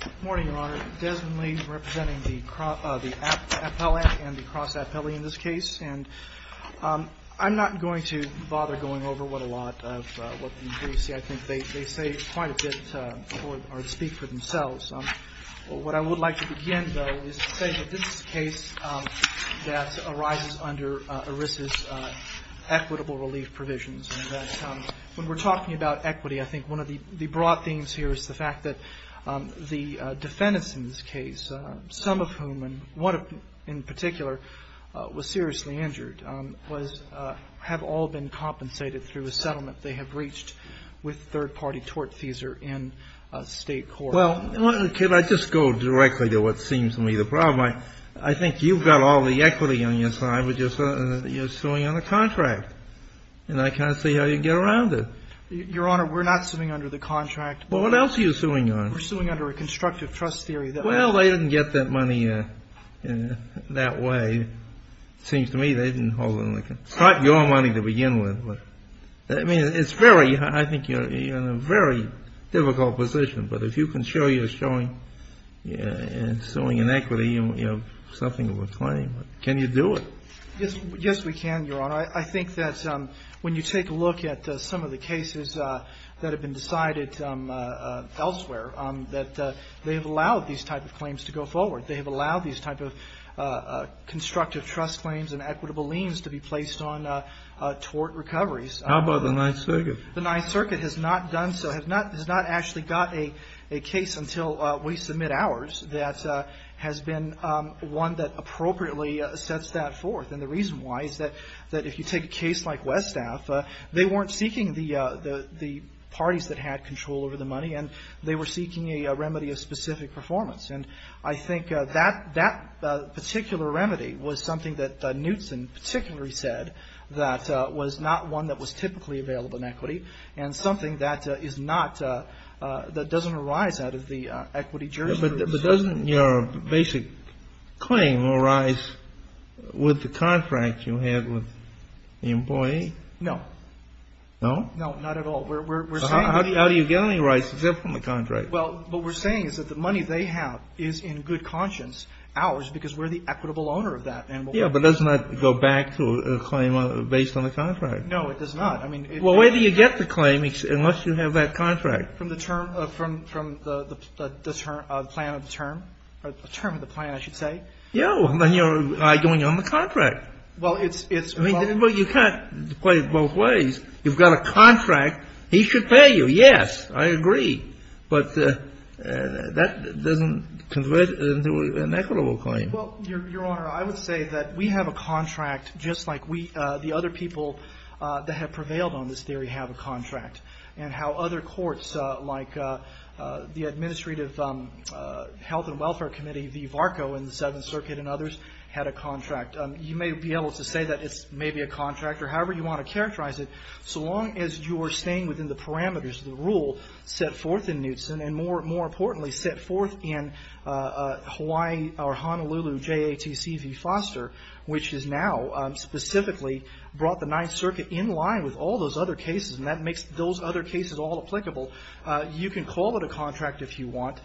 Good morning, Your Honor. Desmond Lee representing the appellate and the cross-appellate in this case. And I'm not going to bother going over what a lot of what you see. I think they say quite a bit or speak for themselves. What I would like to begin, though, is to say that this is a case that arises under ERISA's equitable relief provisions. And that when we're talking about equity, I think one of the broad themes here is the fact that the defendants in this case, some of whom, and one in particular, was seriously injured, have all been compensated through a settlement they have reached with third-party tortfeasor in state court. Well, can I just go directly to what seems to me the problem? I think you've got all the equity on your side, but you're suing on a contract. And I can't see how you get around it. Your Honor, we're not suing under the contract. Well, what else are you suing on? We're suing under a constructive trust theory. Well, they didn't get that money that way. It seems to me they didn't hold on to it. It's not your money to begin with. I mean, it's very – I think you're in a very difficult position. But if you can show you're suing in equity, you have something of a claim. Can you do it? Yes, we can, Your Honor. I think that when you take a look at some of the cases that have been decided elsewhere, that they have allowed these type of claims to go forward. They have allowed these type of constructive trust claims and equitable liens to be placed on tort recoveries. How about the Ninth Circuit? The Ninth Circuit has not done so, has not actually got a case until we submit ours that has been one that appropriately sets that forth. And the reason why is that if you take a case like Westaff, they weren't seeking the parties that had control over the money, and they were seeking a remedy of specific performance. And I think that particular remedy was something that Knutson particularly said that was not one that was typically available in equity and something that is not – that doesn't arise out of the equity jurisdiction. But doesn't your basic claim arise with the contract you had with the employee? No. No? No, not at all. How do you get any rights except from the contract? Well, what we're saying is that the money they have is in good conscience ours because we're the equitable owner of that. Yeah, but does it not go back to a claim based on the contract? No, it does not. Well, where do you get the claim unless you have that contract? From the term – from the plan of the term, or the term of the plan, I should say. Yeah, well, then you're going on the contract. Well, it's – Well, you can't play it both ways. You've got a contract. He should pay you. Yes, I agree. But that doesn't convert into an equitable claim. Well, Your Honor, I would say that we have a contract just like we – the other people that have prevailed on this theory have a contract. And how other courts like the Administrative Health and Welfare Committee, the VARCO and the Seventh Circuit and others had a contract. You may be able to say that it's maybe a contract or however you want to characterize it. So long as you're staying within the parameters of the rule set forth in Knutson and more importantly set forth in Hawaii or Honolulu JATC v. Foster, which has now specifically brought the Ninth Circuit in line with all those other cases and that makes those other cases all applicable, you can call it a contract if you want.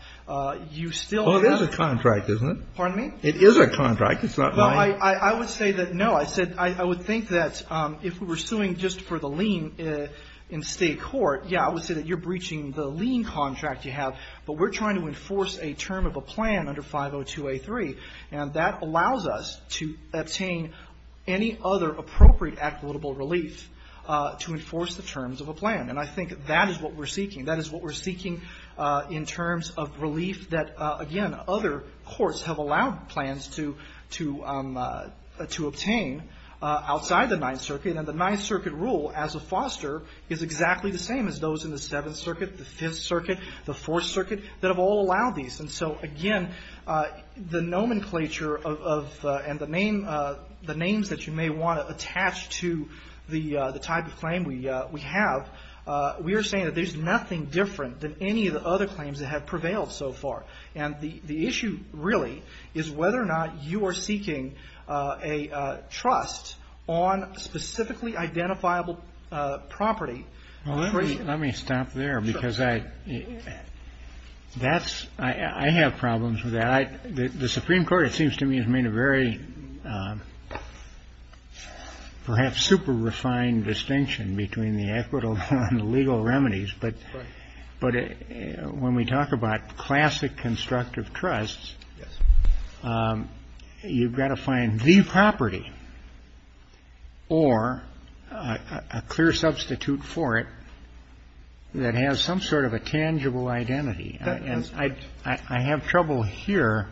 You still have – Well, it is a contract, isn't it? Pardon me? It is a contract. It's not mine. No, I would say that – no, I would think that if we were suing just for the lien in state court, yeah, I would say that you're breaching the lien contract you have. But we're trying to enforce a term of a plan under 502A3. And that allows us to obtain any other appropriate equitable relief to enforce the terms of a plan. And I think that is what we're seeking. That is what we're seeking in terms of relief that, again, other courts have allowed plans to obtain outside the Ninth Circuit. And the Ninth Circuit rule as of Foster is exactly the same as those in the Seventh Circuit, the Fifth Circuit, the Fourth Circuit, that have all allowed these. And so, again, the nomenclature of – and the names that you may want to attach to the type of claim we have, we are saying that there's nothing different than any of the other claims that have prevailed so far. And the issue really is whether or not you are seeking a trust on specifically identifiable property. Well, let me stop there because I – that's – I have problems with that. The Supreme Court, it seems to me, has made a very perhaps super refined distinction between the equitable and the legal remedies. But when we talk about classic constructive trusts, you've got to find the property or a clear substitute for it that has some sort of a tangible identity. And I have trouble here.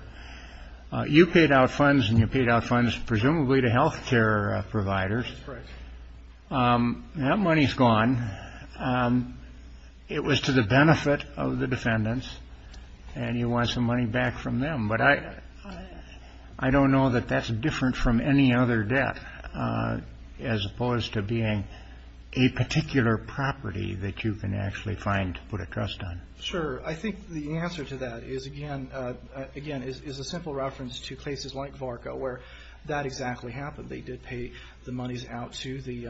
You paid out funds and you paid out funds presumably to health care providers. That's correct. That money's gone. It was to the benefit of the defendants and you want some money back from them. But I don't know that that's different from any other debt as opposed to being a particular property that you can actually find to put a trust on. Sure. I think the answer to that is, again – again, is a simple reference to cases like VARCA where that exactly happened. They did pay the monies out to the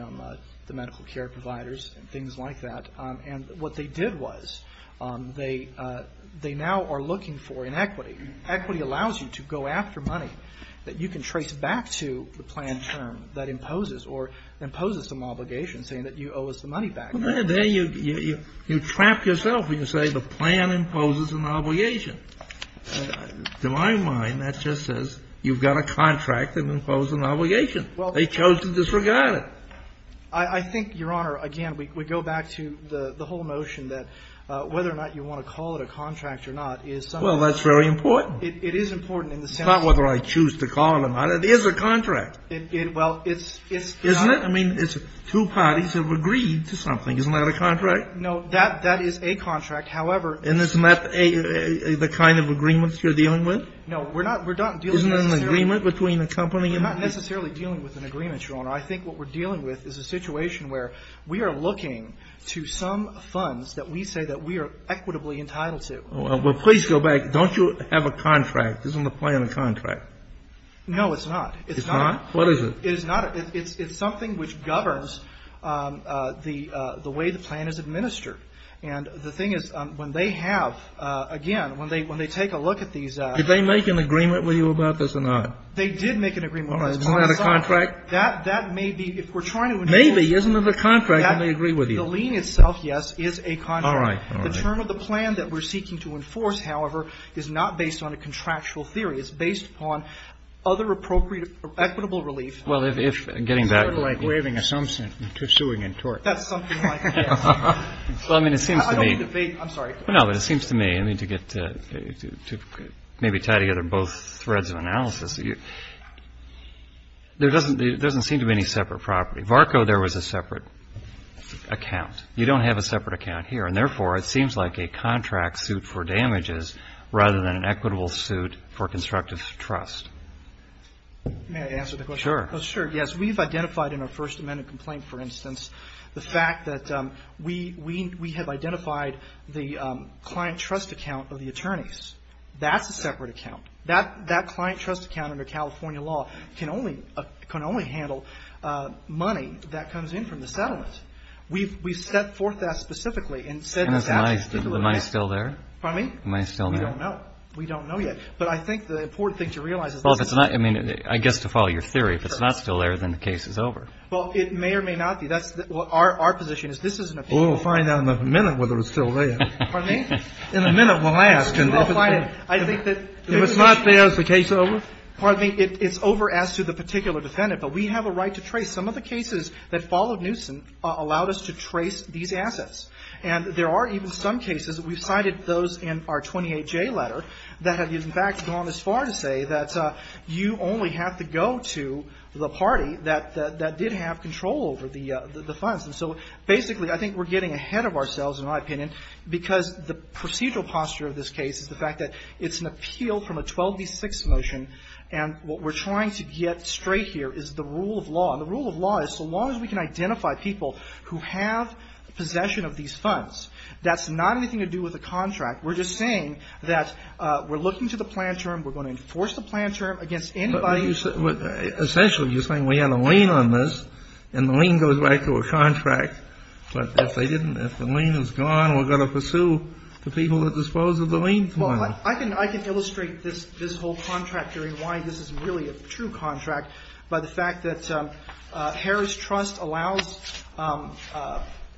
medical care providers and things like that. And what they did was they – they now are looking for an equity. Equity allows you to go after money that you can trace back to the plan term that imposes or imposes some obligation saying that you owe us the money back. Well, there you – you trap yourself when you say the plan imposes an obligation. To my mind, that just says you've got a contract that imposes an obligation. Well – They chose to disregard it. I think, Your Honor, again, we go back to the whole notion that whether or not you want to call it a contract or not is something – Well, that's very important. It is important in the sense – It's not whether I choose to call it or not. It is a contract. Well, it's – it's – Isn't it? I mean, it's two parties have agreed to something. Isn't that a contract? No, that – that is a contract. However – Isn't this not a – the kind of agreements you're dealing with? No, we're not – we're not dealing – Isn't it an agreement between the company and – We're not necessarily dealing with an agreement, Your Honor. I think what we're dealing with is a situation where we are looking to some funds that we say that we are equitably entitled to. Well, please go back. Don't you have a contract? Isn't the plan a contract? No, it's not. It's not? What is it? It is not – it's something which governs the way the plan is administered. And the thing is, when they have – again, when they – when they take a look at these – Did they make an agreement with you about this or not? They did make an agreement with us. All right. Isn't that a contract? That – that may be – if we're trying to – Maybe. Isn't it a contract? Can they agree with you? The lien itself, yes, is a contract. All right. All right. The term of the plan that we're seeking to enforce, however, is not based on a contractual theory. It's based upon other appropriate – equitable relief. Well, if – if – getting back to the – It's sort of like waiving assumption to suing in tort. That's something like that. Well, I mean, it seems to me – I don't want to debate. I'm sorry. No, but it seems to me, I mean, to get – to maybe tie together both threads of analysis, there doesn't – there doesn't seem to be any separate property. VARCO, there was a separate account. You don't have a separate account here. And, therefore, it seems like a contract suit for damages rather than an equitable suit for constructive trust. May I answer the question? Sure. Sure, yes. As we've identified in our first amendment complaint, for instance, the fact that we – we – we have identified the client trust account of the attorneys. That's a separate account. That – that client trust account under California law can only – can only handle money that comes in from the settlement. We've – we've set forth that specifically and said it's actually stipulated. And is the money – is the money still there? Pardon me? Is the money still there? We don't know. We don't know yet. But I think the important thing to realize is this is not – I mean, I guess to follow your theory, if it's not still there, then the case is over. Well, it may or may not be. That's – our – our position is this is an appeal. Well, we'll find out in a minute whether it's still there. Pardon me? In a minute, we'll ask. We'll find it. I think that – If it's not there, is the case over? Pardon me? It's over as to the particular defendant. But we have a right to trace. Some of the cases that followed Newsom allowed us to trace these assets. And there are even some cases that we've cited those in our 28J letter that have, in fact, gone as far to say that you only have to go to the party that – that did have control over the – the funds. And so basically, I think we're getting ahead of ourselves, in my opinion, because the procedural posture of this case is the fact that it's an appeal from a 12d6 motion. And what we're trying to get straight here is the rule of law. And the rule of law is so long as we can identify people who have possession of these funds, that's not anything to do with the contract. We're just saying that we're looking to the plan term. We're going to enforce the plan term against anybody. But you – essentially, you're saying we have a lien on this, and the lien goes back to a contract. But if they didn't – if the lien is gone, we're going to pursue the people that disposed of the lien for them. Well, I can – I can illustrate this – this whole contract here and why this is really a true contract by the fact that Harris Trust allows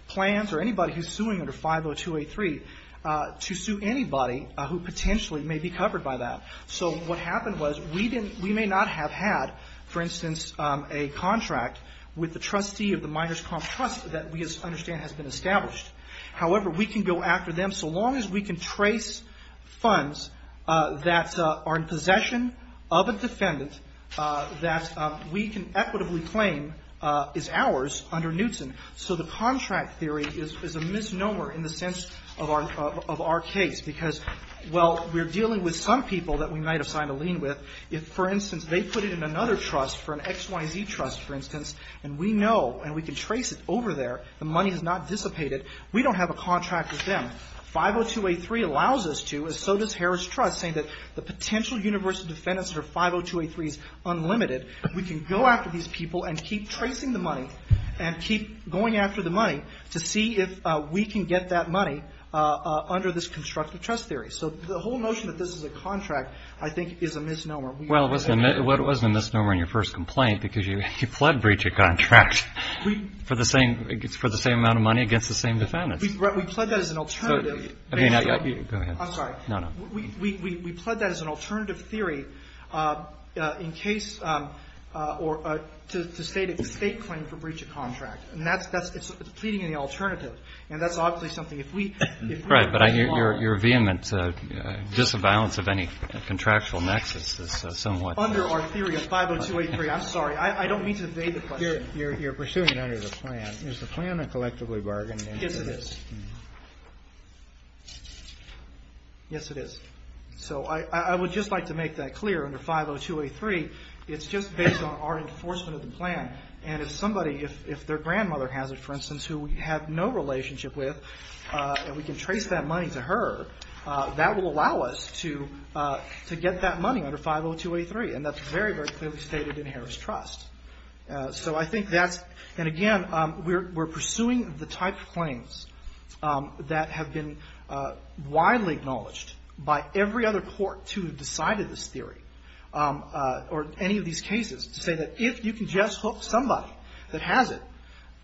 plans or anybody who's suing under 50283 to sue anybody who potentially may be covered by that. So what happened was we didn't – we may not have had, for instance, a contract with the trustee of the Miners Comp Trust that we understand has been established. However, we can go after them so long as we can trace funds that are in possession of a defendant that we can equitably claim is ours under Knutson. So the contract theory is a misnomer in the sense of our case because, well, we're dealing with some people that we might have signed a lien with. If, for instance, they put it in another trust, for an XYZ trust, for instance, and we know and we can trace it over there, the money has not dissipated, we don't have a contract with them. 50283 allows us to, and so does Harris Trust, saying that the potential universal defendants under 50283 is unlimited. We can go after these people and keep tracing the money and keep going after the money to see if we can get that money under this constructive trust theory. So the whole notion that this is a contract, I think, is a misnomer. Well, it wasn't a misnomer in your first complaint because you pled breach of contract for the same amount of money against the same defendants. We pled that as an alternative. Go ahead. I'm sorry. No, no. We pled that as an alternative theory in case or to state a state claim for breach of contract. And it's pleading in the alternative. And that's obviously something if we were to go along. Right. But your vehement disavowal of any contractual nexus is somewhat. Under our theory of 50283. I'm sorry. I don't mean to evade the question. You're pursuing it under the plan. Is the plan a collectively bargained into this? Yes, it is. Yes, it is. So I would just like to make that clear under 50283. It's just based on our enforcement of the plan. And if somebody, if their grandmother has it, for instance, who we have no relationship with, and we can trace that money to her, that will allow us to get that money under 50283. And that's very, very clearly stated in Harris Trust. So I think that's, and again, we're pursuing the type of claims that have been widely acknowledged by every other court to have decided this theory or any of these cases to say that if you can just hook somebody that has it,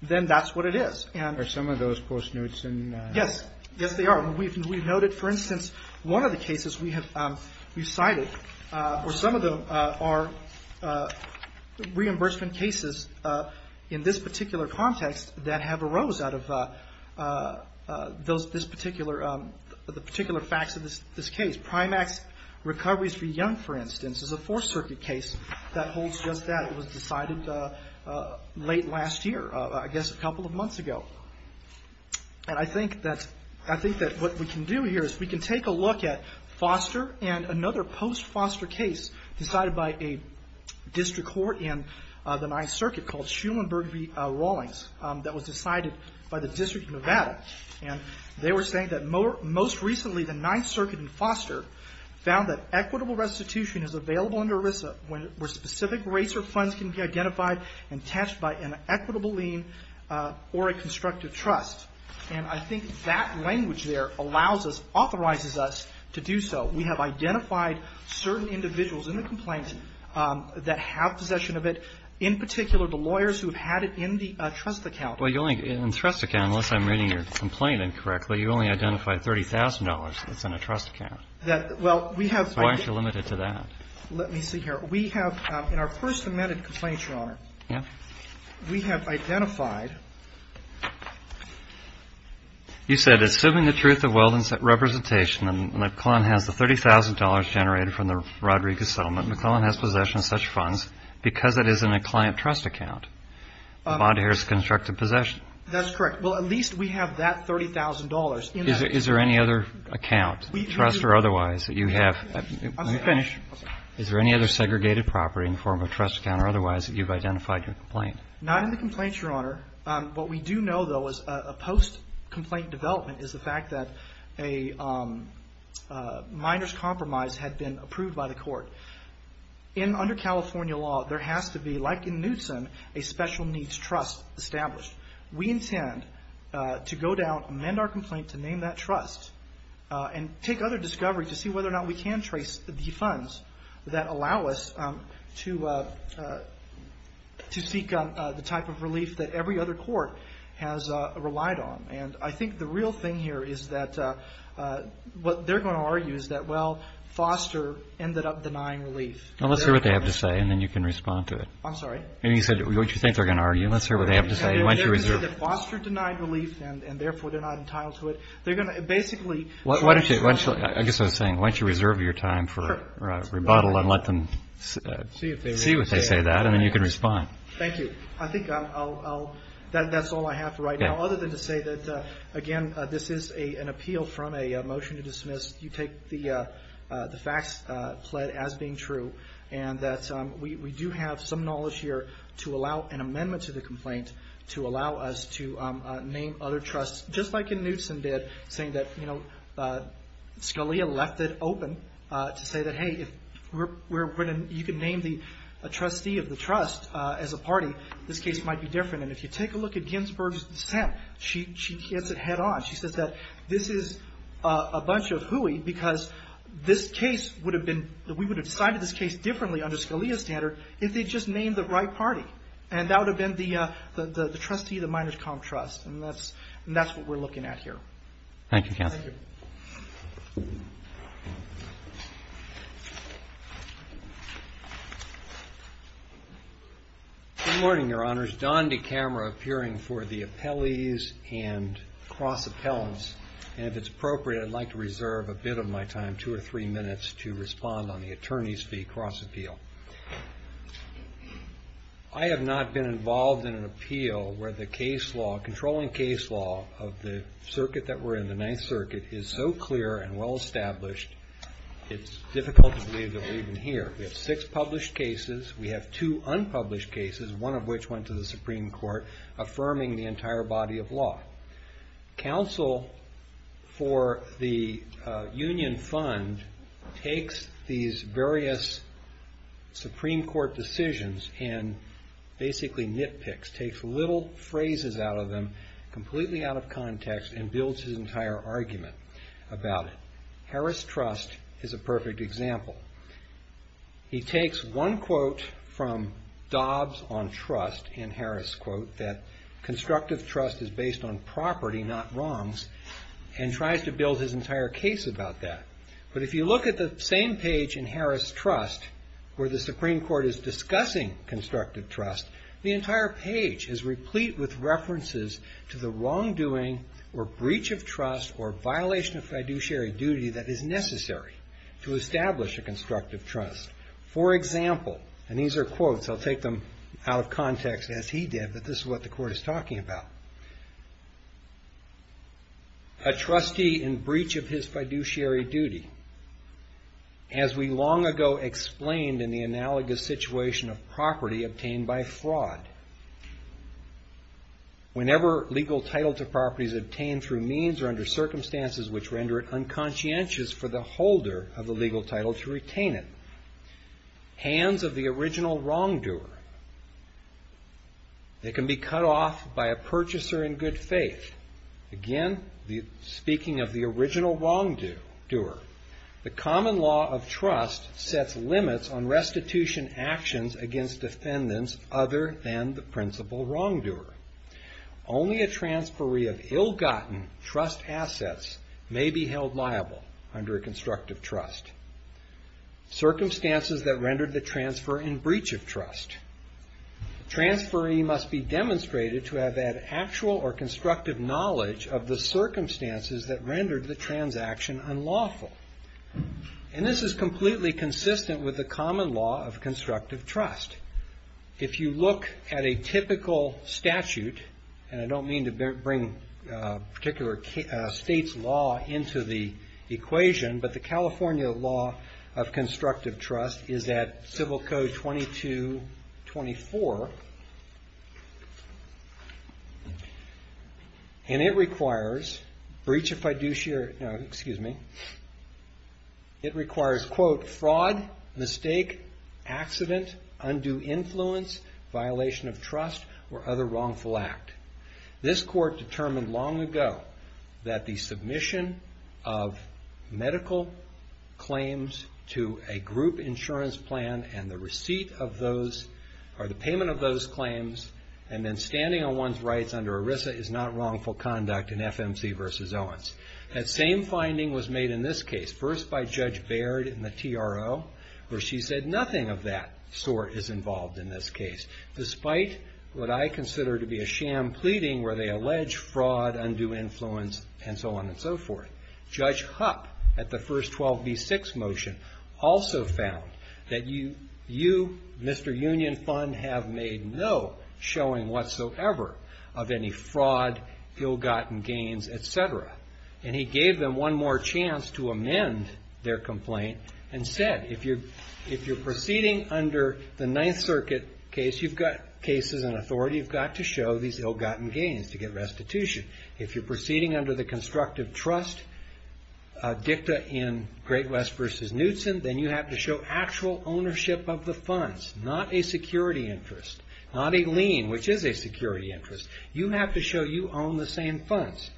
then that's what it is. And. Are some of those post notes in? Yes. Yes, they are. We've noted, for instance, one of the cases we have cited where some of them are reimbursed reimbursement cases in this particular context that have arose out of this particular, the particular facts of this case. Primax recoveries for Young, for instance, is a Fourth Circuit case that holds just that. It was decided late last year, I guess a couple of months ago. And I think that what we can do here is we can take a look at Foster and another post Foster case decided by a district court in the Ninth Circuit called Schulenburg v. Rawlings that was decided by the District of Nevada. And they were saying that most recently the Ninth Circuit in Foster found that equitable restitution is available under ERISA where specific rates or funds can be identified and attached by an equitable lien or a constructive trust. And I think that language there allows us, authorizes us to do so. We have identified certain individuals in the complaint that have possession of it, in particular the lawyers who have had it in the trust account. Well, you only, in the trust account, unless I'm reading your complaint incorrectly, you only identified $30,000 that's in a trust account. Well, we have. Why aren't you limited to that? Let me see here. We have, in our first amended complaint, Your Honor, we have identified. You said, assuming the truth of Weldon's representation and McClellan has the $30,000 generated from the Rodriguez settlement, McClellan has possession of such funds because it is in a client trust account. The bond here is constructive possession. That's correct. Well, at least we have that $30,000. Is there any other account, trust or otherwise, that you have? Let me finish. Is there any other segregated property in the form of a trust account or otherwise that you've identified in your complaint? Not in the complaint, Your Honor. What we do know, though, is a post-complaint development is the fact that a minor's compromise had been approved by the court. Under California law, there has to be, like in Knutson, a special needs trust established. We intend to go down, amend our complaint to name that trust, and take other discovery to see whether or not we can trace the funds that allow us to seek the type of relief that every other court has relied on. And I think the real thing here is that what they're going to argue is that, well, Foster ended up denying relief. Well, let's hear what they have to say and then you can respond to it. I'm sorry? You said what you think they're going to argue. Let's hear what they have to say. They're going to say that Foster denied relief and, therefore, they're not entitled to it. They're going to basically I guess what I'm saying, why don't you reserve your time for rebuttal and let them see what they say, and then you can respond. Thank you. I think that's all I have for right now, other than to say that, again, this is an appeal from a motion to dismiss. You take the facts pled as being true, and that we do have some knowledge here to allow an amendment to the complaint to allow us to name other trusts, just like Knutson did, saying that Scalia left it open to say that, hey, you can name a trustee of the trust as a party. This case might be different. And if you take a look at Ginsberg's dissent, she hits it head on. She says that this is a bunch of hooey because this case would have been that we would have decided this case differently under Scalia's standard if they'd just named the right party, and that would have been the trustee of the Miners Com Trust, and that's what we're looking at here. Thank you, counsel. Thank you. Good morning, Your Honors. Don DeCamera appearing for the appellees and cross-appellants. And if it's appropriate, I'd like to reserve a bit of my time, two or three minutes, to respond on the attorney's fee cross-appeal. I have not been involved in an appeal where the case law, controlling case law of the circuit that we're in, the Ninth Circuit, is so clear and well-established, it's difficult to believe that we're even here. We have six published cases. We have two unpublished cases, one of which went to the Supreme Court, affirming the entire body of law. Counsel for the union fund takes these various Supreme Court decisions and basically nitpicks, takes little phrases out of them, completely out of context, and builds his entire argument about it. Harris Trust is a perfect example. He takes one quote from Dobbs on trust, in Harris' quote, that constructive trust is based on property, not wrongs, and tries to build his entire case about that. But if you look at the same page in Harris Trust, where the Supreme Court is discussing constructive trust, the entire page is replete with references to the wrongdoing or breach of trust or violation of fiduciary duty that is necessary to establish a constructive trust. For example, and these are quotes, I'll take them out of context, as he did, that this is what the court is talking about. A trustee in breach of his fiduciary duty, as we long ago explained in the analogous situation of property obtained by fraud, whenever legal title to property is obtained through means or under circumstances which render it unconscientious for the holder of the legal title to retain it, hands of the original wrongdoer, they can be cut off by a purchaser in good faith. Again, speaking of the original wrongdoer, the common law of trust sets limits on restitution actions against defendants other than the principal wrongdoer. Only a transferee of ill-gotten trust assets may be held liable under a constructive trust. Circumstances that rendered the transfer in breach of trust. Transferee must be demonstrated to have had actual or constructive knowledge of the circumstances that rendered the transaction unlawful. And this is completely consistent with the common law of constructive trust. If you look at a typical statute, and I don't mean to bring a particular state's law into the equation, but the California law of constructive trust is at Civil Code 2224. And it requires, breach of fiduciary, no, excuse me. It requires, quote, fraud, mistake, accident, undue influence, violation of trust, or other wrongful act. This court determined long ago that the submission of medical claims to a group insurance plan and the receipt of those, or the payment of those claims, and then standing on one's rights under ERISA is not wrongful conduct in FMC v. Owens. That same finding was made in this case, first by Judge Baird in the TRO, where she said nothing of that sort is involved in this case, despite what I consider to be a sham pleading where they allege fraud, undue influence, and so on and so forth. Judge Hupp, at the first 12B6 motion, also found that you, Mr. Union Fund, have made no showing whatsoever of any fraud, ill-gotten gains, etc. And he gave them one more chance to amend their complaint and said, if you're proceeding under the Ninth Circuit case, you've got cases and authority, you've got to show these ill-gotten gains to get restitution. If you're proceeding under the constructive trust dicta in Great West v. Knudsen, then you have to show actual ownership of the funds, not a security interest, not a lien, which is a security interest. You have to show you own the same funds.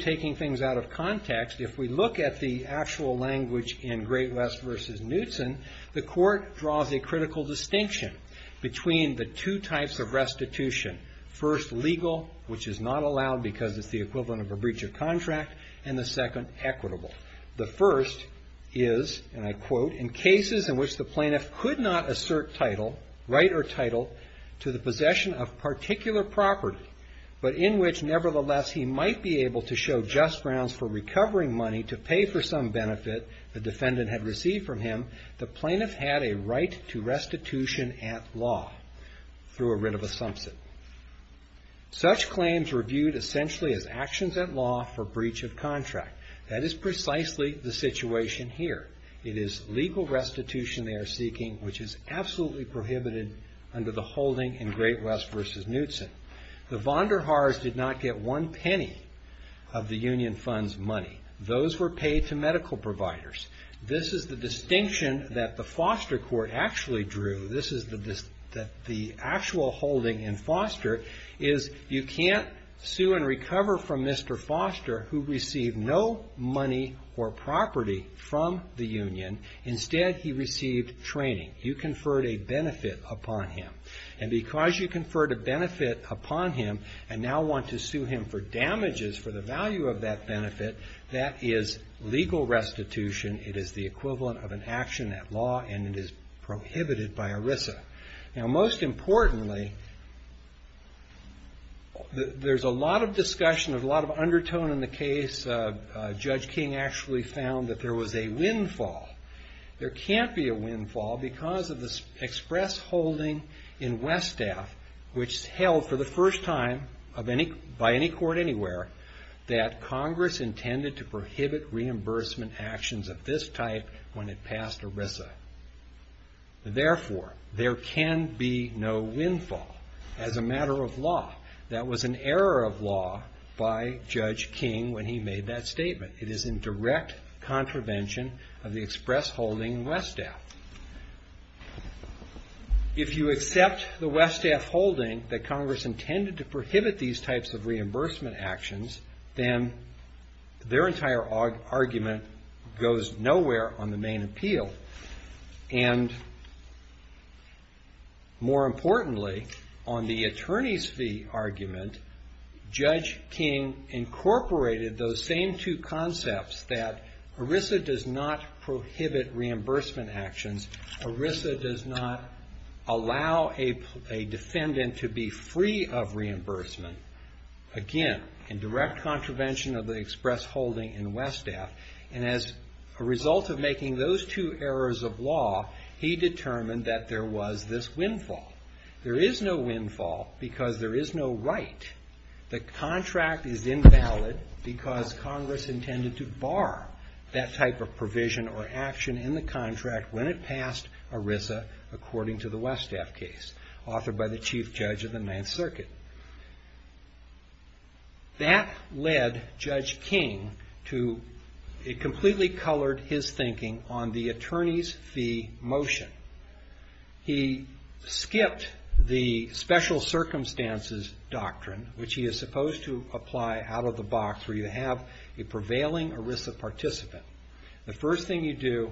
taking things out of context, if we look at the actual language in Great West v. Knudsen, the court draws a critical distinction between the two types of restitution. First, legal, which is not allowed because it's the equivalent of a breach of contract, and the second, equitable. The first is, and I quote, in cases in which the plaintiff could not assert title, right or title, to the possession of particular property, but in which, nevertheless, he might be able to show just grounds for recovering money to pay for some benefit the defendant had received from him, the plaintiff had a right to restitution at law through a writ of assumption. Such claims were viewed, essentially, as actions at law for breach of contract. That is precisely the situation here. It is legal restitution they are seeking, which is absolutely prohibited under the holding in Great West v. Knudsen. The von der Haars did not get one penny of the union fund's money. Those were paid to medical providers. This is the distinction that the foster court actually drew. This is the actual holding in foster, is you can't sue and recover from Mr. Foster, who received no money or property from the union. Instead, he received training. You conferred a benefit upon him. Because you conferred a benefit upon him and now want to sue him for damages for the value of that benefit, that is legal restitution. It is the equivalent of an action at law, and it is prohibited by ERISA. Most importantly, there's a lot of discussion, a lot of undertone in the case. Judge King actually found that there was a windfall. There can't be a windfall because of the express holding in Westaf, which held for the first time by any court anywhere, that Congress intended to prohibit reimbursement actions of this type when it passed ERISA. Therefore, there can be no windfall as a matter of law. That was an error of law by Judge King when he made that statement. It is in direct contravention of the express holding in Westaf. If you accept the Westaf holding that Congress intended to prohibit these types of reimbursement actions, then their entire argument goes nowhere on the main appeal. More importantly, on the attorney's fee argument, Judge King incorporated those same two concepts that ERISA does not prohibit reimbursement actions. ERISA does not allow a defendant to be free of reimbursement. Again, in direct contravention of the express holding in Westaf. As a result of making those two errors of law, he determined that there was this windfall. There is no windfall because there is no right. The contract is invalid because Congress intended to bar that type of provision or action in the contract when it passed ERISA, according to the Westaf case, authored by the Chief Judge of the Ninth Circuit. That led Judge King to, it completely colored his thinking on the attorney's fee motion. He skipped the special circumstances doctrine, which he is supposed to apply out of the box, where you have a prevailing ERISA participant. The first thing you do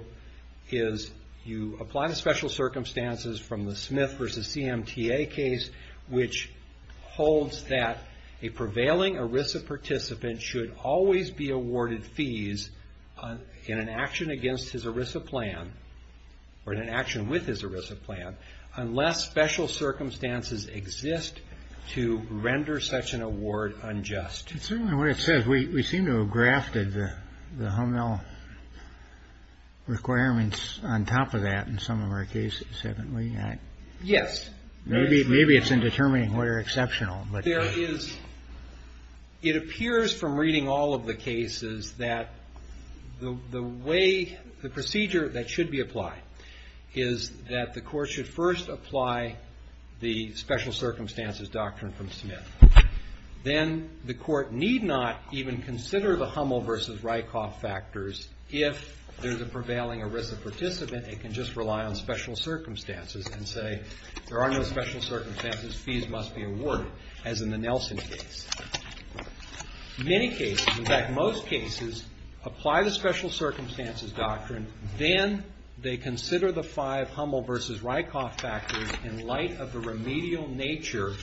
is you apply the special circumstances from the Smith v. CMTA case, which holds that a prevailing ERISA participant should always be awarded fees in an action against his ERISA plan, or in an action with his ERISA plan, unless special circumstances exist to render such an award unjust. It's certainly what it says. We seem to have grafted the home mail requirements on top of that in some of our cases, haven't we? Yes. Maybe it's in determining what are exceptional. There is, it appears from reading all of the cases that the way, the procedure that should be applied is that the court should first apply the special circumstances doctrine from Smith. Then the court need not even consider the Hummel v. Rykoff factors if there's a prevailing ERISA participant and can just rely on special circumstances and say there are no special circumstances, fees must be awarded, as in the Nelson case. Many cases, in fact most cases, apply the special circumstances doctrine, then they consider the five Hummel v. Rykoff factors in light of the remedial nature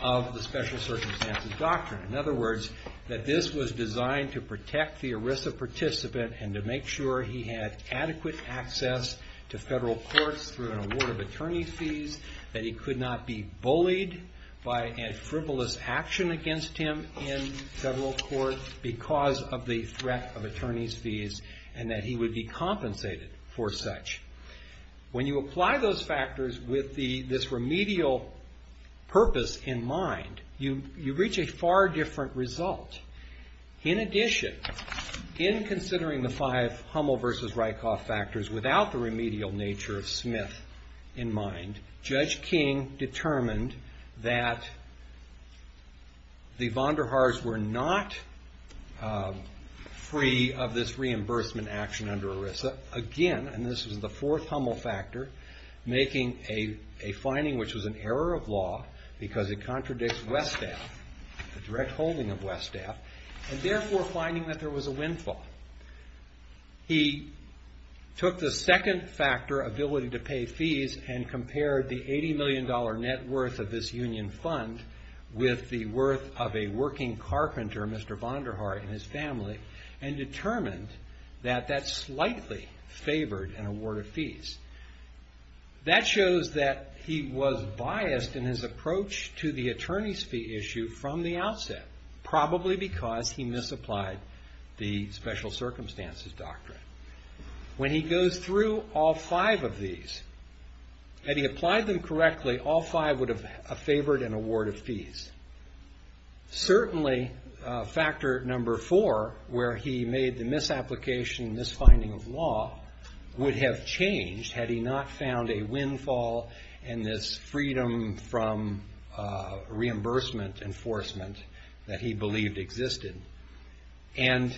of the special circumstances doctrine. In other words, that this was designed to protect the ERISA participant and to make sure he had adequate access to federal courts through an award of attorney's fees, that he could not be bullied by a frivolous action against him in federal court because of the threat of attorney's fees, and that he would be compensated for such. When you apply those factors with this remedial purpose in mind, you reach a far different result. In addition, in considering the five Hummel v. Rykoff factors without the remedial nature of Smith in mind, Judge King determined that the Vonderhaars were not free of this reimbursement action under ERISA. Again, and this was the fourth Hummel factor, making a finding which was an error of law because it contradicts Westaf, the direct holding of Westaf, and therefore finding that there was a windfall. He took the second factor, ability to pay fees, and compared the $80 million net worth of this union fund with the worth of a working carpenter, Mr. Vonderhaar and his family, and determined that that slightly favored an award of fees. That shows that he was biased in his approach to the attorney's fee issue from the outset, probably because he misapplied the special circumstances doctrine. When he goes through all five of these, had he applied them correctly, all five would have favored an award of fees. Certainly, factor number four, where he made the misapplication, misfinding of law, would have changed had he not found a windfall and this freedom from reimbursement enforcement that he believed existed, and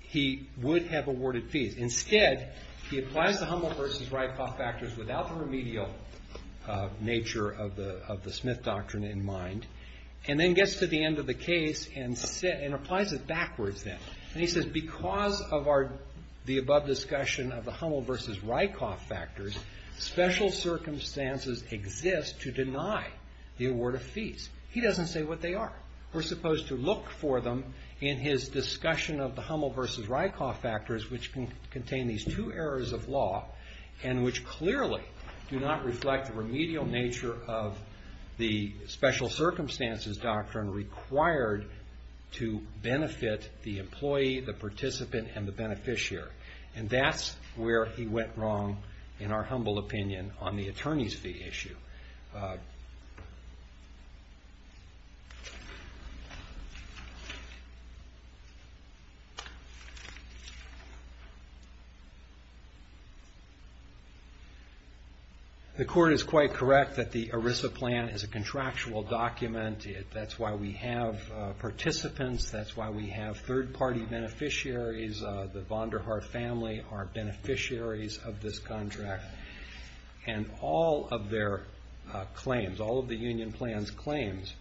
he would have awarded fees. Instead, he applies the Hummel versus Ryckhoff factors without the remedial nature of the Smith doctrine in mind, and then gets to the end of the case and applies it backwards then, and he says, because of the above discussion of the Hummel versus Ryckhoff factors, special circumstances exist to deny the award of fees. He doesn't say what they are. We're supposed to look for them in his discussion of the Hummel versus Ryckhoff factors, which contain these two errors of law, and which clearly do not reflect the remedial nature of the special circumstances doctrine required to benefit the employee, the participant, and the beneficiary, and that's where he went wrong, in our humble opinion, on the attorney's fee issue. The court is quite correct that the ERISA plan is a contractual document. That's why we have participants. That's why we have third-party beneficiaries. The Vonderhaar family are beneficiaries of this contract, and all of their claims, all of the union plan's claims,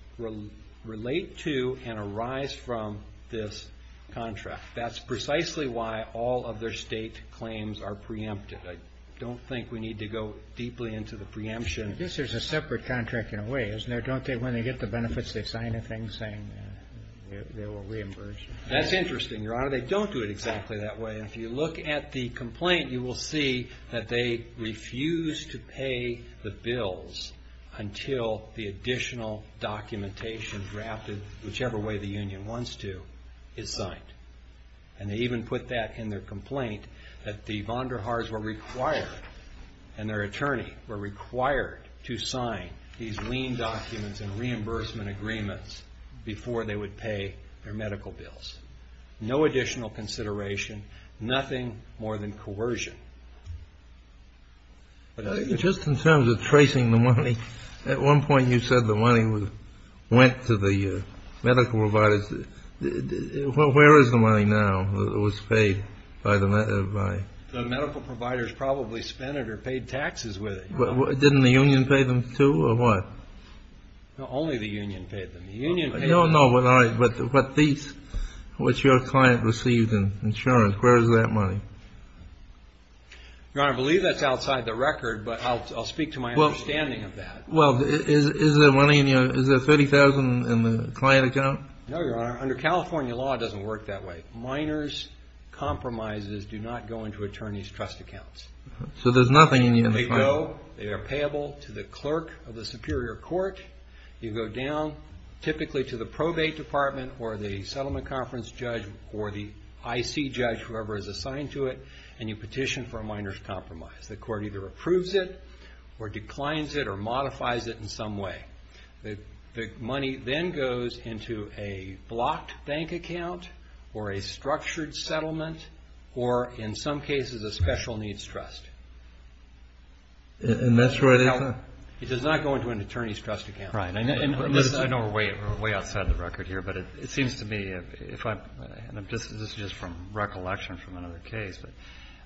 relate to and arise from this contract. That's precisely why all of their state claims are preempted. I don't think we need to go deeply into the preemption. I guess there's a separate contract in a way, isn't there? Don't they, when they get the benefits, they sign a thing saying they will reimburse you? That's interesting, Your Honor. They don't do it exactly that way. If you look at the complaint, you will see that they refuse to pay the bills until the additional documentation drafted whichever way the union wants to is signed. And they even put that in their complaint that the Vonderhaars were required, and their attorney, were required to sign these lien documents and reimbursement agreements before they would pay their medical bills. No additional consideration, nothing more than coercion. Just in terms of tracing the money, at one point you said the money went to the medical providers. Where is the money now that was paid by the medical providers? The medical providers probably spent it or paid taxes with it. Didn't the union pay them too, or what? No, only the union paid them. The union paid them. I don't know, but these, what your client received in insurance, where is that money? Your Honor, I believe that's outside the record, but I'll speak to my understanding of that. Well, is there money in your, is there $30,000 in the client account? No, Your Honor. Under California law, it doesn't work that way. Minors' compromises do not go into attorney's trust accounts. So there's nothing in the client... They go, they are payable to the clerk of the superior court. You go down, typically to the probate department or the settlement conference judge or the IC judge, whoever is assigned to it, and you petition for a minor's compromise. The court either approves it or declines it or modifies it in some way. The money then goes into a blocked bank account or a structured settlement or, in some cases, a special needs trust. And that's where they... It does not go into an attorney's trust account. Right. I know we're way outside the record here, but it seems to me, and this is just from recollection from another case, but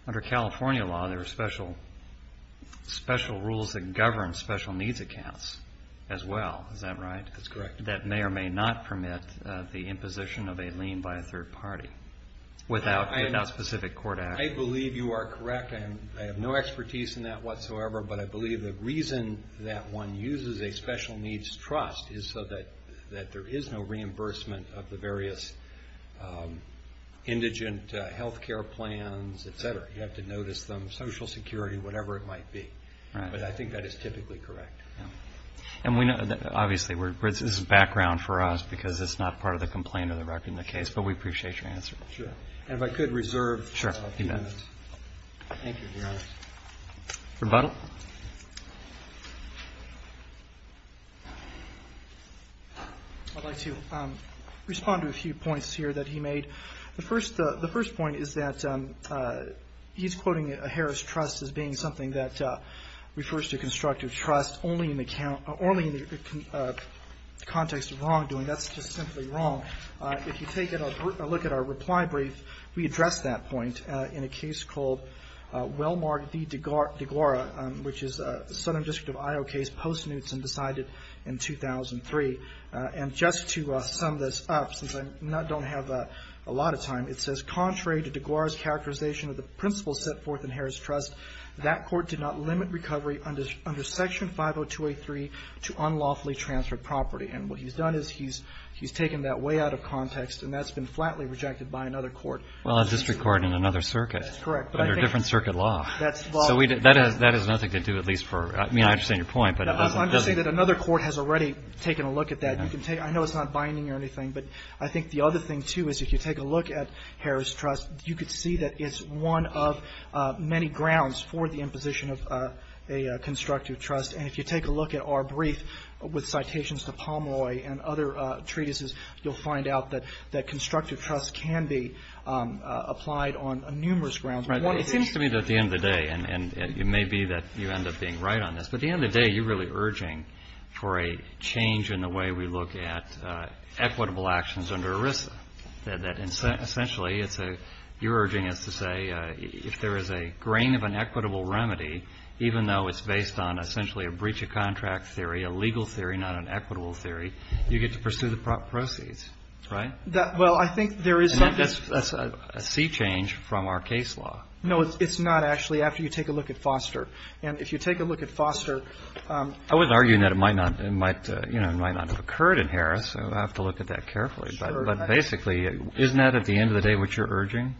under California law, there are special rules that govern special needs accounts as well. Is that right? That's correct. That may or may not permit the imposition of a lien by a third party without a specific court act. I believe you are correct. I have no expertise in that whatsoever, but I believe the reason that one uses a special needs trust is so that there is no reimbursement of the various indigent health care plans, et cetera. You have to notice them, Social Security, whatever it might be. Right. But I think that is typically correct. Yeah. And obviously, this is background for us because it's not part of the complaint or the record in the case, but we appreciate your answer. Sure. And if I could reserve a few minutes. Sure. You bet. Thank you, Your Honor. Rebuttal. I'd like to respond to a few points here that he made. The first point is that he's quoting a Harris trust as being something that refers to constructive trust only in the context of wrongdoing. That's just simply wrong. If you take a look at our reply brief, we address that point in a case called Wellmark v. DeGuarra, which is a Southern District of Iowa case post-Newtson decided in 2003. And just to sum this up, since I don't have a lot of time, it says, contrary to DeGuarra's characterization of the principles set forth in Harris trust, that court did not limit recovery under Section 50283 to unlawfully transferred property. And what he's done is he's taken that way out of context, and that's been flatly rejected by another court. Well, a district court in another circuit. That's correct. Under different circuit law. So that has nothing to do at least for, I mean, I understand your point, but it doesn't. I'm just saying that another court has already taken a look at that. I know it's not binding or anything, but I think the other thing, too, is if you take a look at Harris trust, you could see that it's one of many grounds for the imposition of a constructive trust. And if you take a look at our brief with citations to Pomeroy and other treatises, you'll find out that constructive trust can be applied on numerous grounds. It seems to me that at the end of the day, and it may be that you end up being right on this, but at the end of the day, you're really urging for a change in the way we look at equitable actions under ERISA. Essentially, you're urging us to say if there is a grain of an equitable remedy, even though it's based on essentially a breach of contract theory, a legal theory, not an equitable theory, you get to pursue the proceeds, right? Well, I think there is something. And that's a sea change from our case law. No, it's not, actually, after you take a look at Foster. And if you take a look at Foster. I was arguing that it might not have occurred in Harris, so I'll have to look at that carefully. Sure. But basically, isn't that at the end of the day what you're urging?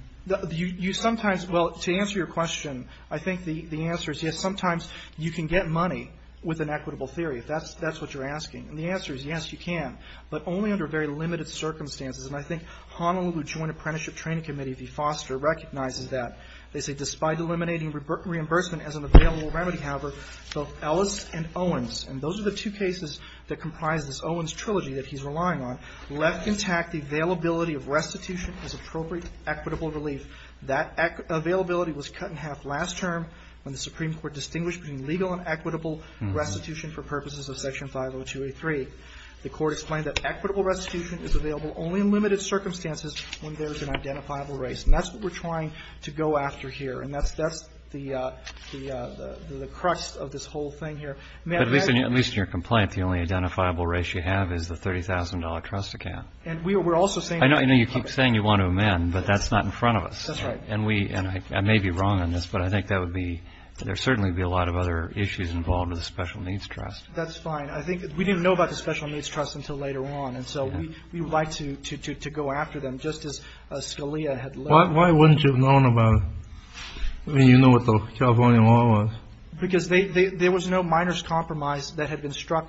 You sometimes, well, to answer your question, I think the answer is yes, sometimes you can get money with an equitable theory, if that's what you're asking. And the answer is yes, you can, but only under very limited circumstances. And I think Honolulu Joint Apprenticeship Training Committee, if you foster, recognizes that. They say despite eliminating reimbursement as an available remedy, however, both Ellis and Owens, and those are the two cases that comprise this Owens trilogy that he's relying on, left intact the availability of restitution as appropriate equitable relief. That availability was cut in half last term when the Supreme Court distinguished between legal and equitable restitution for purposes of Section 502A3. The Court explained that equitable restitution is available only in limited circumstances when there is an identifiable race. And that's what we're trying to go after here. And that's the crux of this whole thing here. May I add to that? But at least in your complaint, the only identifiable race you have is the $30,000 trust account. And we're also saying that you want to amend it. I know you keep saying you want to amend, but that's not in front of us. That's right. And we, and I may be wrong on this, but I think that would be, there certainly would be a lot of other issues involved with the Special Needs Trust. That's fine. I think we didn't know about the Special Needs Trust until later on. And so we would like to go after them, just as Scalia had left. Why wouldn't you have known about it? I mean, you know what the California law was. Because there was no minors' compromise that had been struck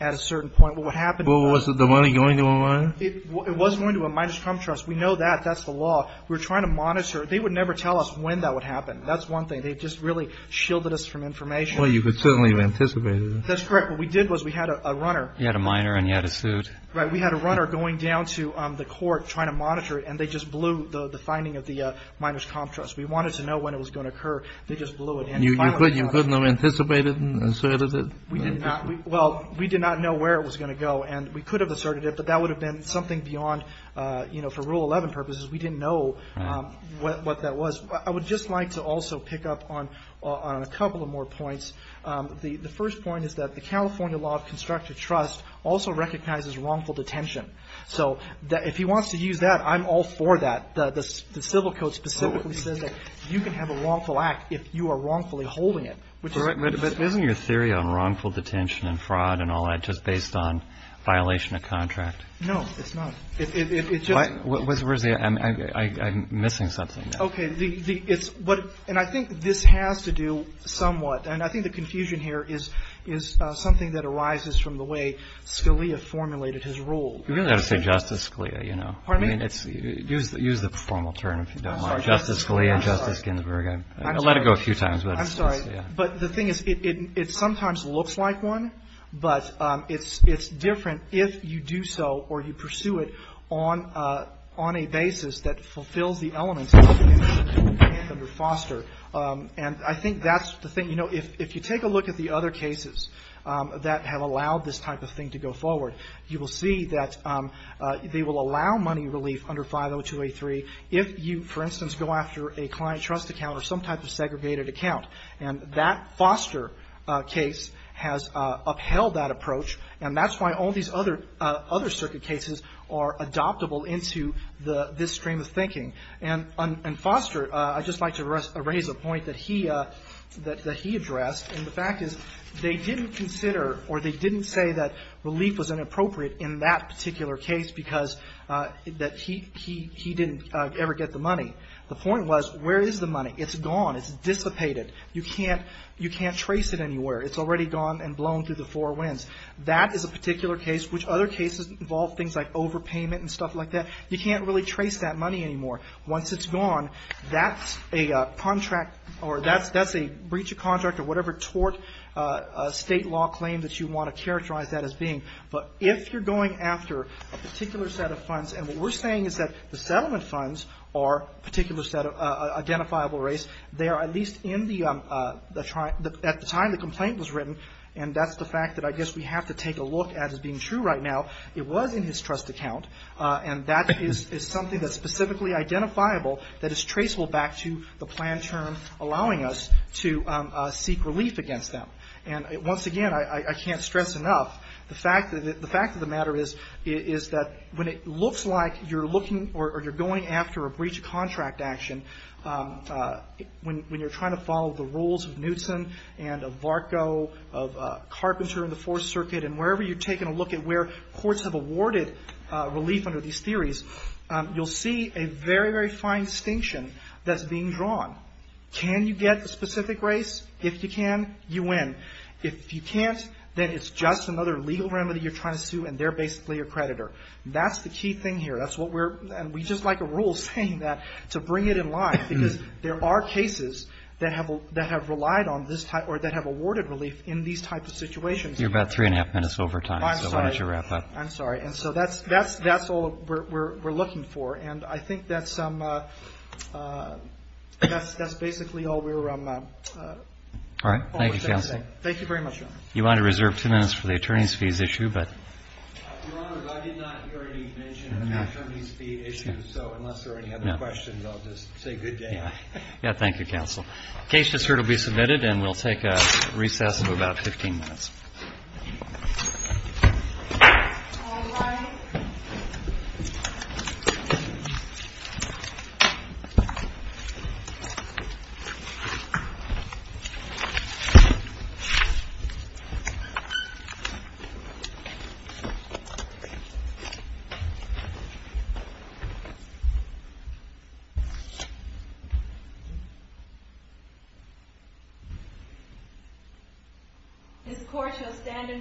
at a certain point. Well, what happened was... Well, was the money going to a minor? It was going to a minors' comp trust. We know that. That's the law. We're trying to monitor. They would never tell us when that would happen. That's one thing. They just really shielded us from information. Well, you could certainly have anticipated it. That's correct. What we did was we had a runner. You had a minor and you had a suit. Right. We had a runner going down to the court trying to monitor it, and they just blew the finding of the minors' comp trust. We wanted to know when it was going to occur. They just blew it. You couldn't have anticipated it and asserted it? We did not. Well, we did not know where it was going to go. And we could have asserted it, but that would have been something beyond, you know, for Rule 11 purposes. We didn't know what that was. I would just like to also pick up on a couple of more points. The first point is that the California Law of Constructive Trust also recognizes wrongful detention. So if he wants to use that, I'm all for that. The civil code specifically says that you can have a wrongful act if you are wrongfully holding it. But isn't your theory on wrongful detention and fraud and all that just based on violation of contract? No, it's not. I'm missing something. Okay. And I think this has to do somewhat, and I think the confusion here is something that arises from the way Scalia formulated his rule. You really ought to say Justice Scalia, you know. Pardon me? Use the formal term if you don't mind. I'm sorry. Justice Scalia, Justice Ginsburg. I let it go a few times. I'm sorry. But the thing is, it sometimes looks like one, but it's different if you do so, or you pursue it on a basis that fulfills the elements of the FOSTER. And I think that's the thing. You know, if you take a look at the other cases that have allowed this type of thing to go forward, you will see that they will allow money relief under 50283 if you, for instance, go after a client trust account or some type of segregated account. And that FOSTER case has upheld that approach, and that's why all these other circuit cases are adoptable into this stream of thinking. And FOSTER, I'd just like to raise a point that he addressed, and the fact is they didn't consider or they didn't say that relief was inappropriate in that particular case because that he didn't ever get the money. The point was, where is the money? It's gone. It's dissipated. You can't trace it anywhere. It's already gone and blown through the four winds. That is a particular case, which other cases involve things like overpayment and stuff like that. You can't really trace that money anymore. Once it's gone, that's a breach of contract or whatever tort state law claim that you want to characterize that as being. But if you're going after a particular set of funds, and what we're saying is that the settlement funds are a particular set of They are at least at the time the complaint was written, and that's the fact that I guess we have to take a look at as being true right now. It was in his trust account, and that is something that's specifically identifiable that is traceable back to the plan term allowing us to seek relief against them. And once again, I can't stress enough the fact that the matter is that when it looks like you're looking or you're going after a breach of contract action, when you're trying to follow the rules of Knutson and of Varko, of Carpenter and the Fourth Circuit, and wherever you're taking a look at where courts have awarded relief under these theories, you'll see a very, very fine distinction that's being drawn. Can you get a specific race? If you can, you win. If you can't, then it's just another legal remedy you're trying to sue, and they're basically your creditor. That's the key thing here. And we just like a rule saying that to bring it in line, because there are cases that have relied on this type or that have awarded relief in these types of situations. You're about three and a half minutes over time, so why don't you wrap up. I'm sorry. And so that's all we're looking for. And I think that's basically all we're going to say. Thank you, counsel. Thank you very much, Your Honor. You want to reserve two minutes for the attorney's fees issue, but... Your Honor, I did not hear any mention of an attorney's fee issue, so unless there are any other questions, I'll just say good day. Yeah, thank you, counsel. The case just heard will be submitted, and we'll take a recess of about 15 minutes. Thank you. This court shall stand in recess.